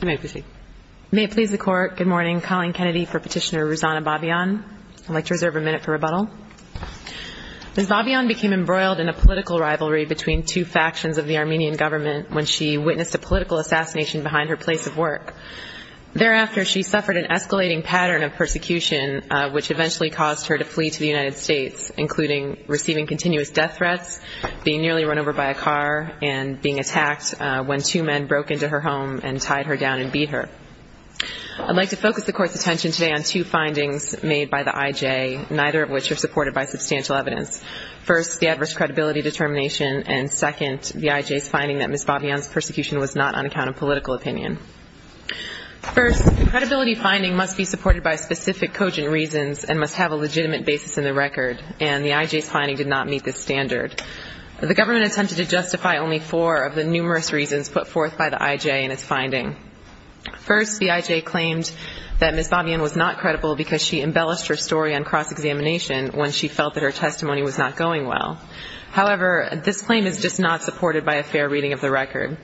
Ms. Babayan became embroiled in a political rivalry between two factions of the Armenian government when she witnessed a political assassination behind her place of work. Thereafter, she suffered an escalating pattern of persecution, which eventually caused her to flee to the United States, including receiving continuous death threats, being nearly run over by a tied her down and beat her. I'd like to focus the Court's attention today on two findings made by the IJ, neither of which are supported by substantial evidence. First, the adverse credibility determination, and second, the IJ's finding that Ms. Babayan's persecution was not on account of political opinion. First, credibility finding must be supported by specific cogent reasons and must have a legitimate basis in the record, and the IJ's finding did not meet this standard. The government attempted to justify only four of the numerous reasons put forth by the IJ in its finding. First, the IJ claimed that Ms. Babayan was not credible because she embellished her story on cross-examination when she felt that her testimony was not going well. However, this claim is just not supported by a fair reading of the record.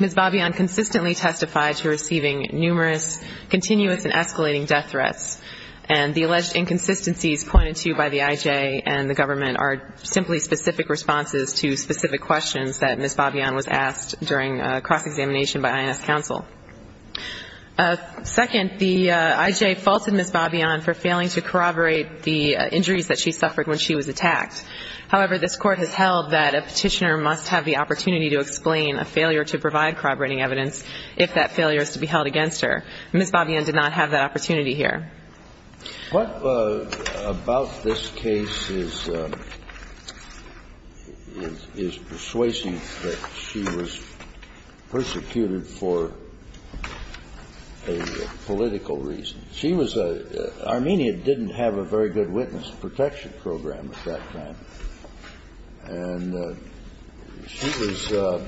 Ms. Babayan consistently testified to receiving numerous continuous and escalating death threats, and the alleged inconsistencies pointed to by the IJ and the government are simply specific responses to specific questions that Ms. Babayan was asked during cross-examination by INS counsel. Second, the IJ faulted Ms. Babayan for failing to corroborate the injuries that she suffered when she was attacked. However, this Court has held that a petitioner must have the opportunity to explain a failure to provide corroborating evidence if that failure is to be held against her. Ms. Babayan did not have that opportunity here. What about this case is persuasive that she was persecuted for a political reason? She was a – Armenia didn't have a very good witness protection program at that time. And she was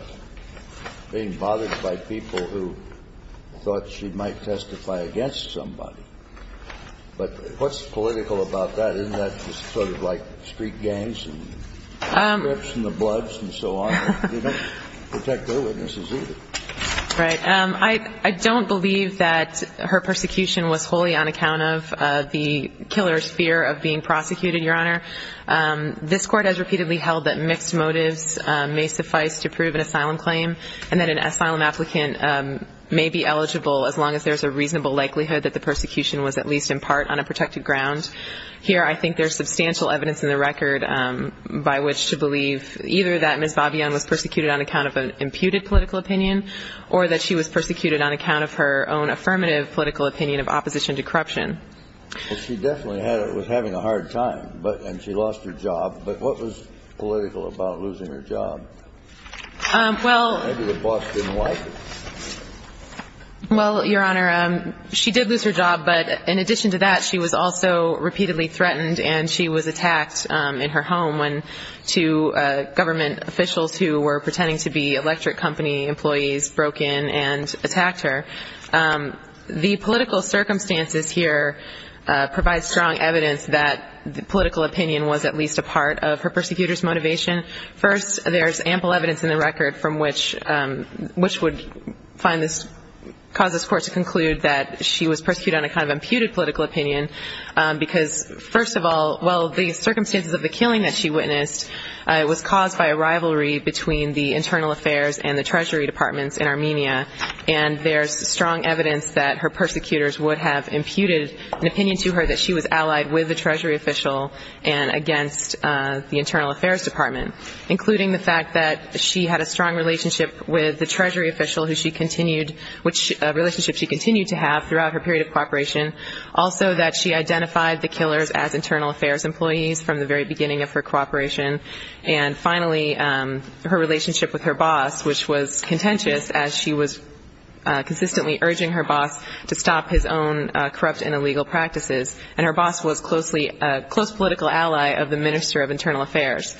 being bothered by people who thought she might testify against somebody. But what's political about that? Isn't that just sort of like street gangs and strips and the bloods and so on? They don't protect their witnesses either. Right. I don't believe that her persecution was wholly on account of the killer's fear of being prosecuted, Your Honor. This Court has repeatedly held that mixed motives may suffice to prove an asylum claim and that an asylum applicant may be eligible as long as there's a reasonable likelihood that the persecution was at least in part on a protected ground. Here I think there's substantial evidence in the record by which to believe either that Ms. Babayan was persecuted on account of an imputed political opinion or that she was persecuted on account of her own affirmative political opinion of opposition to corruption. Well, she definitely was having a hard time and she lost her job. But what was political about losing her job? Maybe the boss didn't like it. Well, Your Honor, she did lose her job, but in addition to that, she was also repeatedly threatened and she was attacked in her home when two government officials who were pretending to be electric company employees broke in and attacked her. The political circumstances here provide strong evidence that the political opinion was at least a part of her persecutor's motivation. First, there's ample evidence in the record from which would cause this Court to conclude that she was persecuted on account of an imputed political opinion because, first of all, well, the circumstances of the killing that she witnessed was caused by a rivalry between the internal affairs and the treasury departments in Armenia. And there's strong evidence that her persecutors would have imputed an opinion to her that she was allied with the treasury official and against the internal affairs department, including the fact that she had a strong relationship with the treasury official, which relationship she continued to have throughout her period of cooperation. Also that she identified the killers as internal affairs employees from the very beginning of her cooperation. And finally, her relationship with her boss, which was contentious, as she was consistently urging her boss to stop his own corrupt and illegal practices. And her boss was closely a close political ally of the minister of internal affairs.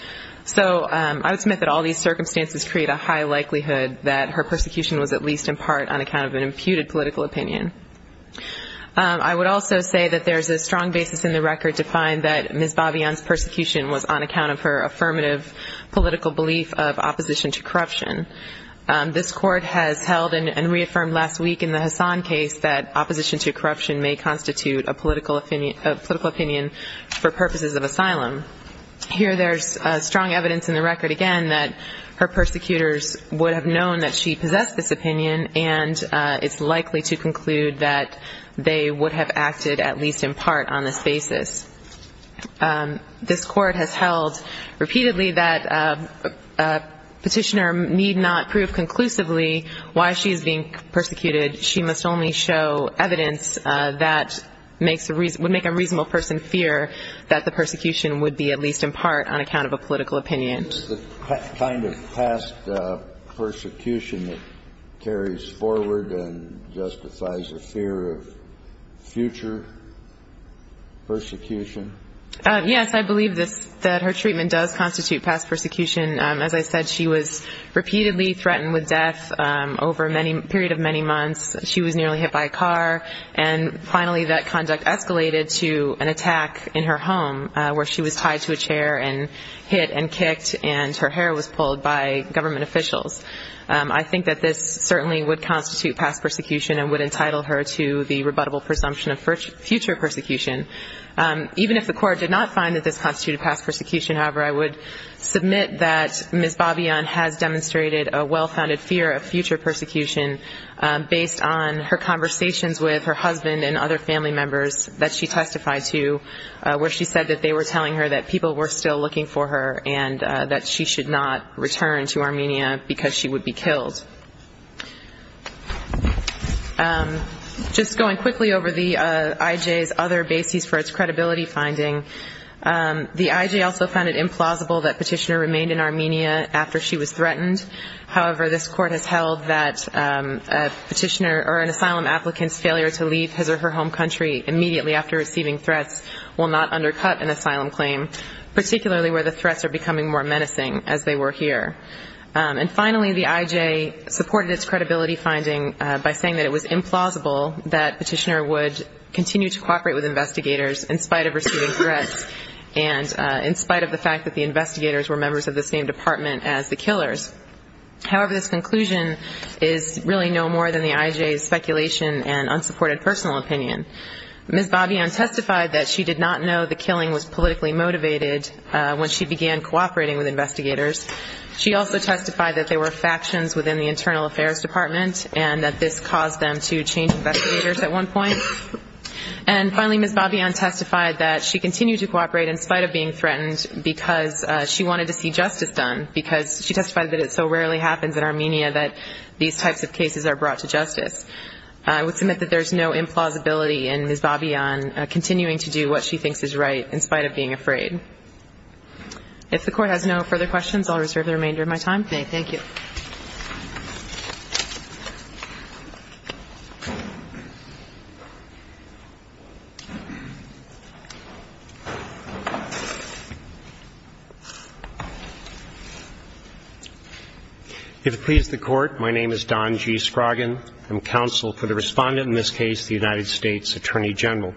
So I would submit that all these circumstances create a high likelihood that her persecution was at least in part on account of an imputed political opinion. I would also say that there's a strong basis in the record to find that Ms. Hassan's case is based on her affirmative political belief of opposition to corruption. This court has held and reaffirmed last week in the Hassan case that opposition to corruption may constitute a political opinion for purposes of asylum. Here there's strong evidence in the record again that her persecutors would have known that she possessed this opinion, and it's likely to conclude that they would have acted at least in part on this basis. This court has held repeatedly that a petitioner need not prove conclusively why she's being persecuted. She must only show evidence that would make a reasonable person fear that the persecution would be at least in part on account of a political opinion. The kind of past persecution that carries forward and justifies a fear of future persecution. Yes, I believe that her treatment does constitute past persecution. As I said, she was repeatedly threatened with death over a period of many months. She was nearly hit by a car, and finally that conduct escalated to an attack in her home where she was tied to a chair and hit and kicked, and her hair was pulled by government officials. I think that this certainly would constitute past persecution and would entitle her to the rebuttable presumption of future persecution. Even if the court did not find that this constituted past persecution, however, I would submit that Ms. Babian has demonstrated a well-founded fear of future persecution based on her conversations with her husband and other family members that she testified to where she said that they were telling her that people were still looking for her and that she should not return to Armenia because she would be killed. Just going quickly over the IJ's other bases for its credibility finding, the IJ also found it implausible that Petitioner remained in Armenia after she was threatened. However, this court has held that Petitioner or an asylum applicant's failure to leave his or her home, particularly where the threats are becoming more menacing as they were here. And finally, the IJ supported its credibility finding by saying that it was implausible that Petitioner would continue to cooperate with investigators in spite of receiving threats and in spite of the fact that the investigators were members of the same department as the killers. However, this conclusion is really no more than the IJ's speculation and unsupported personal opinion. Ms. Babyan testified that she did not know the killing was politically motivated when she began cooperating with investigators. She also testified that they were factions within the internal affairs department and that this caused them to change investigators at one point. And finally, Ms. Babyan testified that she continued to cooperate in spite of being threatened because she wanted to see justice done, because she testified that it so rarely happens in Armenia that these types of cases are brought to justice. I would submit that there's no implausibility in Ms. Babyan continuing to do what she thinks is right in spite of being afraid. If the court has no further questions, I'll reserve the remainder of my time. Thank you. If it pleases the Court, my name is Don G. Scroggin. I'm counsel for the Respondent, in this case, the United States Attorney General.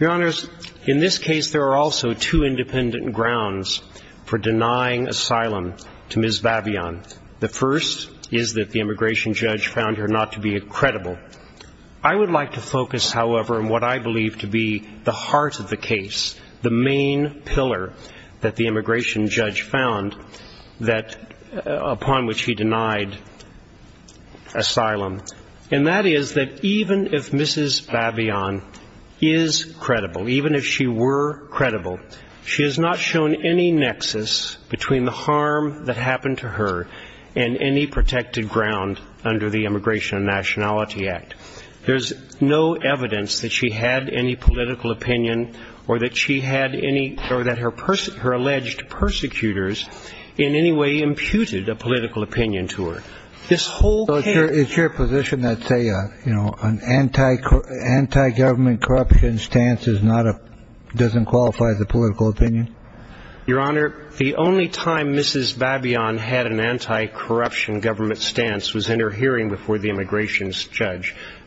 Your Honors, in this case, there are also two independent grounds for denying asylum to Ms. Babyan. The first is that Ms. Babyan is a member of the Armenia. The first is that the immigration judge found her not to be credible. I would like to focus, however, on what I believe to be the heart of the case, the main pillar that the immigration judge found upon which he denied asylum, and that is that even if Ms. Babyan is credible, even if she were credible, there is no evidence that she had any political opinion in any protected ground under the Immigration and Nationality Act. There's no evidence that she had any political opinion or that she had any, or that her alleged persecutors in any way imputed a political opinion to her. This whole case... So it's your position that an anti-government corruption stance doesn't qualify as a political opinion? No.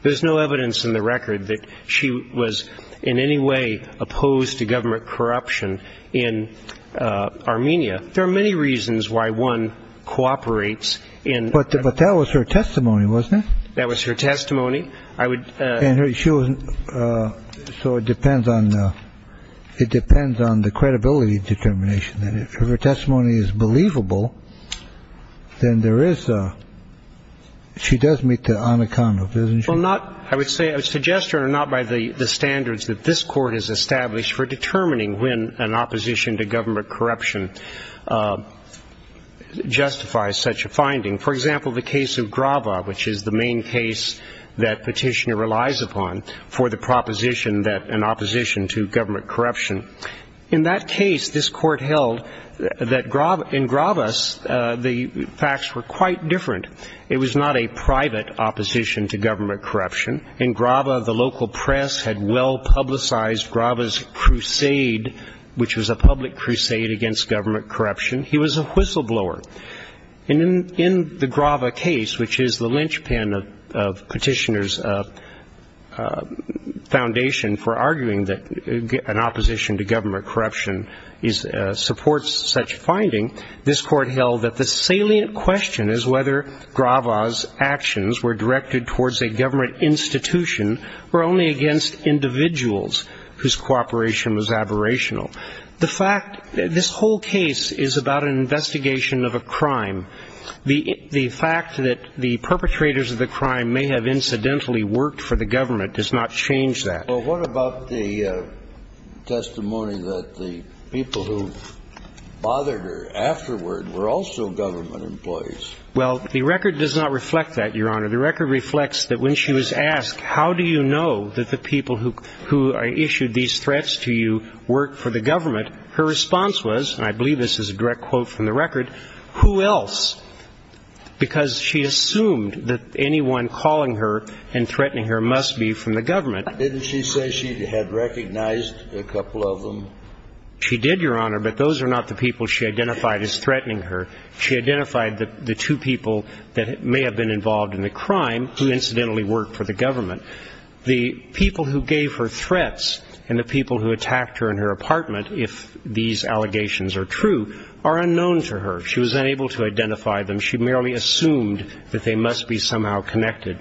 There's no evidence in the record that she was in any way opposed to government corruption in Armenia. There are many reasons why one cooperates in... But that was her testimony, wasn't it? That was her testimony. So it depends on the credibility determination. If her testimony is believable, then she does meet the unaccountable, doesn't she? I would suggest to her, not by the standards that this Court has established for determining when an opposition to government corruption justifies such a finding. For example, the case of Grava, which is the main case that Petitioner relies upon for the proposition that an opposition to government corruption, in that case, this Court held that in Grava, the facts were quite different. It was not a private opposition to government corruption. In Grava, the local press had well publicized Grava's crusade, which was a public crusade against government corruption, he was a whistleblower. And in the Grava case, which is the linchpin of Petitioner's foundation for arguing that an opposition to government corruption supports such finding, this Court held that the salient question is whether Grava's actions were directed towards a government institution or only against individuals whose cooperation was aberrational. The fact, this whole case is about an investigation of a crime. The fact that the perpetrators of the crime may have incidentally worked for the government does not change that. Well, what about the testimony that the people who bothered her afterward were also government employees? Well, the record does not reflect that, Your Honor. The record reflects that when she was asked, how do you know that the people who issued these threats to you work for the government, her response was, and I believe this is a direct quote from the record, who else? Because she assumed that anyone calling her and threatening her must be from the government. Didn't she say she had recognized a couple of them? She did, Your Honor, but those are not the people she identified as threatening her. She identified the two people that may have been involved in the crime, who incidentally worked for the government. The people who gave her threats and the people who attacked her in her apartment, if these allegations are true, are unknown to her. She was unable to identify them. She merely assumed that they must be somehow connected.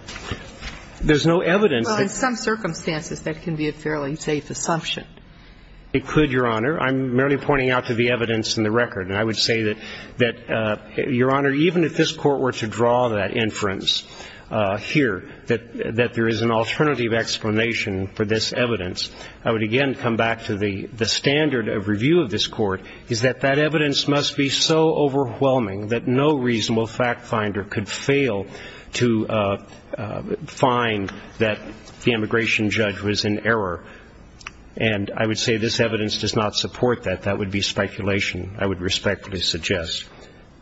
There's no evidence that ---- Well, in some circumstances, that can be a fairly safe assumption. It could, Your Honor. I'm merely pointing out to the evidence in the record, and I would say that, Your Honor, even if this Court were to draw that inference here, that there is an alternative explanation for this evidence, I would again come back to the standard of review of this Court, is that that evidence must be so overwhelming that no reasonable fact finder could fail to find that the immigration judge was in error. And I would say this evidence does not support that. That would be speculation, I would respectfully suggest.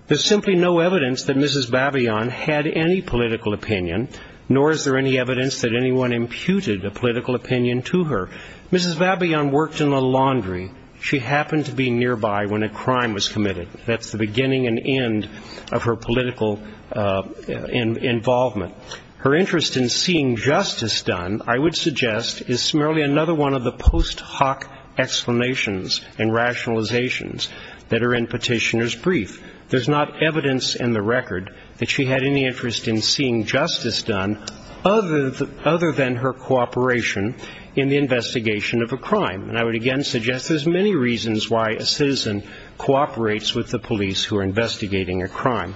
There's simply no evidence that Mrs. Babion had any political opinion, nor is there any evidence that anyone imputed a political opinion to her. Mrs. Babion worked in the laundry. She happened to be nearby when a crime was committed. That's the beginning and end of her political involvement. Her interest in seeing justice done, I would suggest, is merely another one of the post hoc explanations and rationalizations that are in Petitioner's brief. There's not evidence in the record that she had any interest in seeing justice done other than her cooperation in the investigation of a crime. And I would again suggest there's many reasons why a citizen cooperates with the police who are investigating a crime.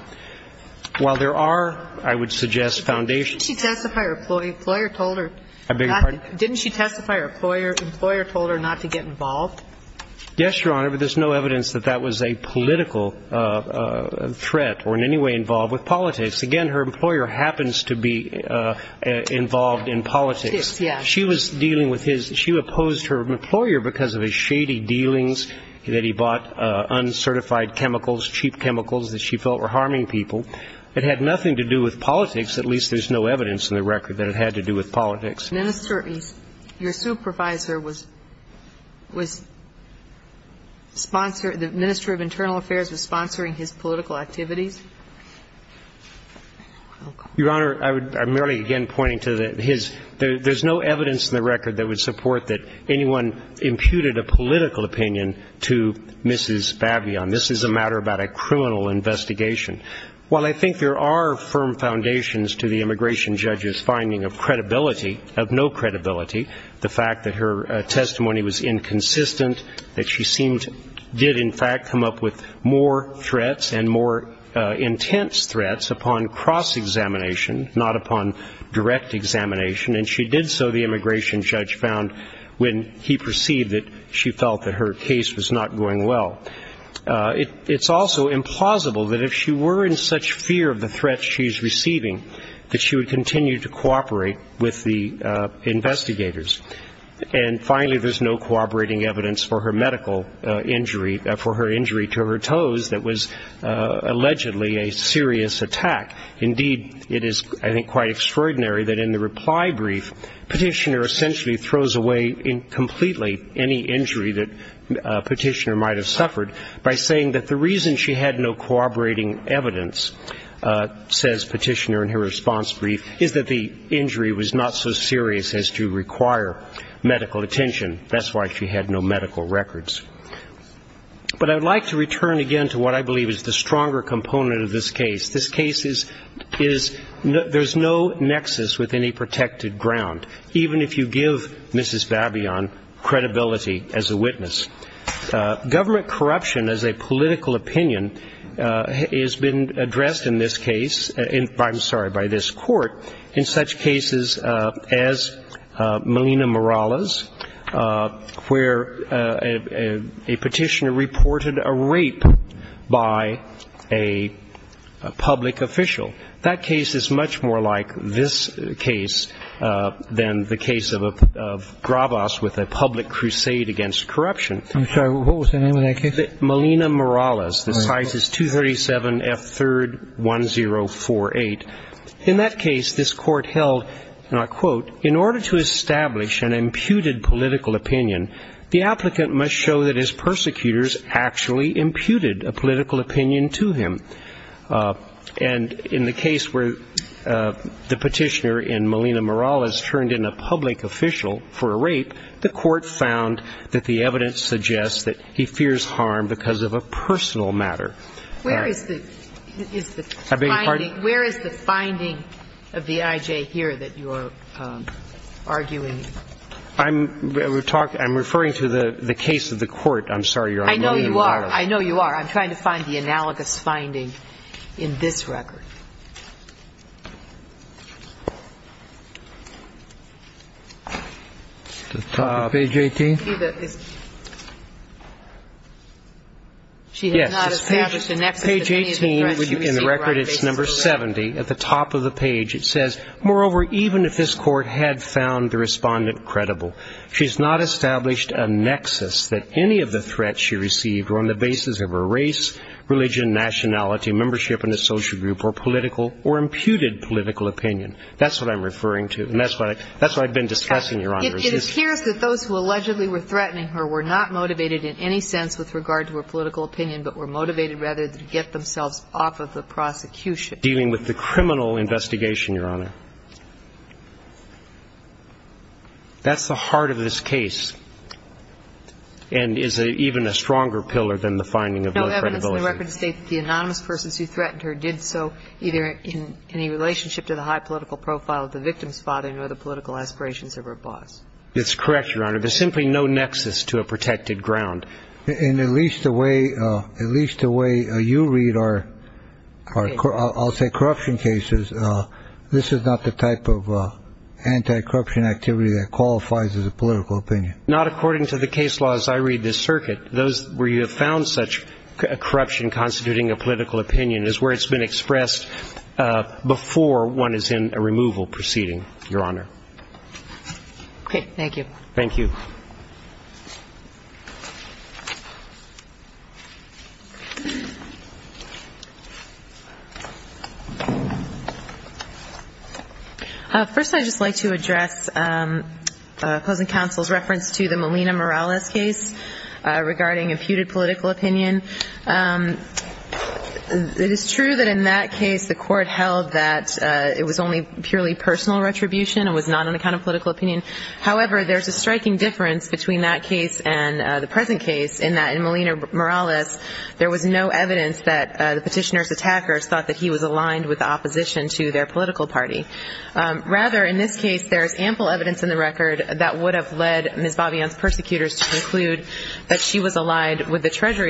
While there are, I would suggest, foundations. Didn't she testify her employer told her not to get involved? Yes, Your Honor, but there's no evidence that that was a political threat or in any way involved with politics. Again, her employer happens to be involved in politics. She was dealing with his ñ she opposed her employer because of his shady dealings, that he bought uncertified chemicals, cheap chemicals that she felt were harming people. It had nothing to do with politics. At least there's no evidence in the record that it had to do with politics. Your supervisor was sponsor ñ the Minister of Internal Affairs was sponsoring his political activities? Your Honor, I would ñ I'm merely again pointing to his ñ there's no evidence in the record that would support that anyone imputed a political opinion to Mrs. Bavion. This is a matter about a criminal investigation. While I think there are firm foundations to the immigration judge's finding of credibility, of no credibility, the fact that her testimony was inconsistent, that she seemed ñ did in fact come up with more threats and more intense threats upon cross-examination, not upon direct examination, and she did so, the immigration judge found, when he perceived that she felt that her case was not going well. It's also implausible that if she were in such fear of the threats she's receiving, that she would continue to cooperate with the investigators. And finally, there's no cooperating evidence for her medical injury, for her injury to her toes that was allegedly a serious attack. Indeed, it is, I think, quite extraordinary that in the reply brief, Petitioner essentially throws away completely any injury that Petitioner might have suffered by saying that the reason she had no cooperating evidence, says Petitioner in her response brief, is that the injury was not so serious as to require medical attention. That's why she had no medical records. But I would like to return again to what I believe is the stronger component of this case. This case is, there's no nexus within a protected ground, even if you give Mrs. Babion credibility as a witness. Government corruption as a political opinion has been addressed in this case, I'm sorry, by this court, in such cases as Molina-Morales, where a Petitioner reported a rape by a public official. That case is much more like this case than the case of Gravas with a public crusade against corruption. I'm sorry, what was the name of that case? Molina-Morales. The size is 237F3R1048. In that case, this court held, and I'll quote, in order to establish an imputed political opinion, the applicant must show that his persecutors actually imputed a political opinion to him. And in the case where the Petitioner in Molina-Morales turned in a public official for a rape, the court found that the evidence suggests that he fears harm because of a personal matter. Where is the finding of the IJ here that you're arguing? I'm referring to the case of the court. I'm sorry, Your Honor, Molina-Morales. I know you are. I know you are. I'm trying to find the analogous finding in this record. Page 18. Page 18, in the record, it's number 70. At the top of the page, it says, Moreover, even if this court had found the Respondent credible, she has not established a nexus that any of the threats she received were on the basis of her race, religion, nationality, membership in a social group or political or imputed political opinion. That's what I'm referring to. And that's what I've been discussing, Your Honor. It appears that those who allegedly were threatening her were not motivated in any sense with regard to her political opinion, but were motivated rather to get themselves off of the prosecution. Dealing with the criminal investigation, Your Honor. That's the heart of this case and is even a stronger pillar than the finding of low credibility. No evidence in the record states that the anonymous persons who threatened her did so either in any relationship to the high political profile of the victim's father or in any other political aspirations of her boss. That's correct, Your Honor. There's simply no nexus to a protected ground. And at least the way you read our, I'll say, corruption cases, this is not the type of anti-corruption activity that qualifies as a political opinion. Not according to the case laws I read this circuit. Those where you have found such corruption constituting a political opinion is where one is in a removal proceeding, Your Honor. Okay. Thank you. Thank you. First I'd just like to address opposing counsel's reference to the Molina-Morales case regarding imputed political opinion. It is true that in that case the court held that it was only purely personal retribution and was not an account of political opinion. However, there's a striking difference between that case and the present case in that in Molina-Morales there was no evidence that the petitioner's attackers thought that he was aligned with the opposition to their political party. Rather, in this case, there is ample evidence in the record that would have led Ms.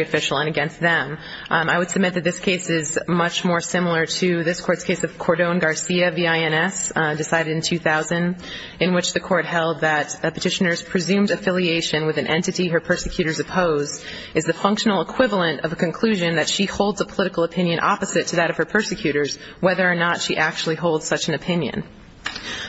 official and against them. I would submit that this case is much more similar to this court's case of Cordon Garcia, V.I.N.S., decided in 2000, in which the court held that a petitioner's presumed affiliation with an entity her persecutors oppose is the functional equivalent of a conclusion that she holds a political opinion opposite to that of her persecutors, whether or not she actually holds such an opinion.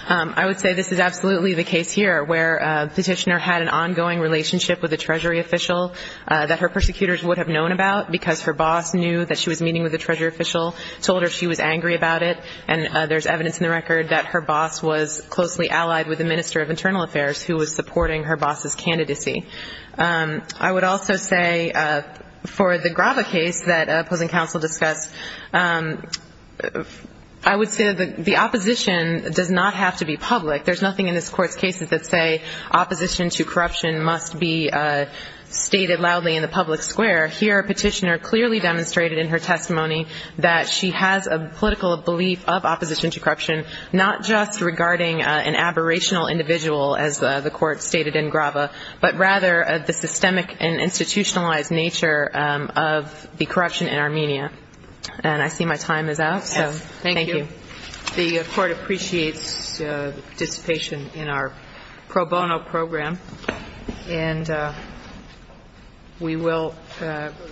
I would say this is absolutely the case here where a petitioner had an ongoing relationship with a treasury official that her persecutors would have known about because her boss knew that she was meeting with a treasury official, told her she was angry about it, and there's evidence in the record that her boss was closely allied with the Minister of Internal Affairs who was supporting her boss's candidacy. I would also say for the Grava case that opposing counsel discussed, I would say that the opposition does not have to be public. There's nothing in this court's cases that say opposition to corruption must be stated loudly in the public square. Here a petitioner clearly demonstrated in her testimony that she has a political belief of opposition to corruption, not just regarding an aberrational individual, as the court stated in Grava, but rather the systemic and institutionalized nature of the corruption in Armenia. And I see my time is out, so thank you. And the Court appreciates the participation in our pro bono program. And we will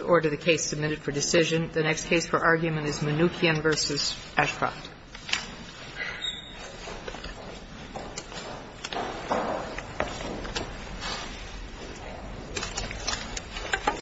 order the case submitted for decision. The next case for argument is Mnuchin v. Ashcroft.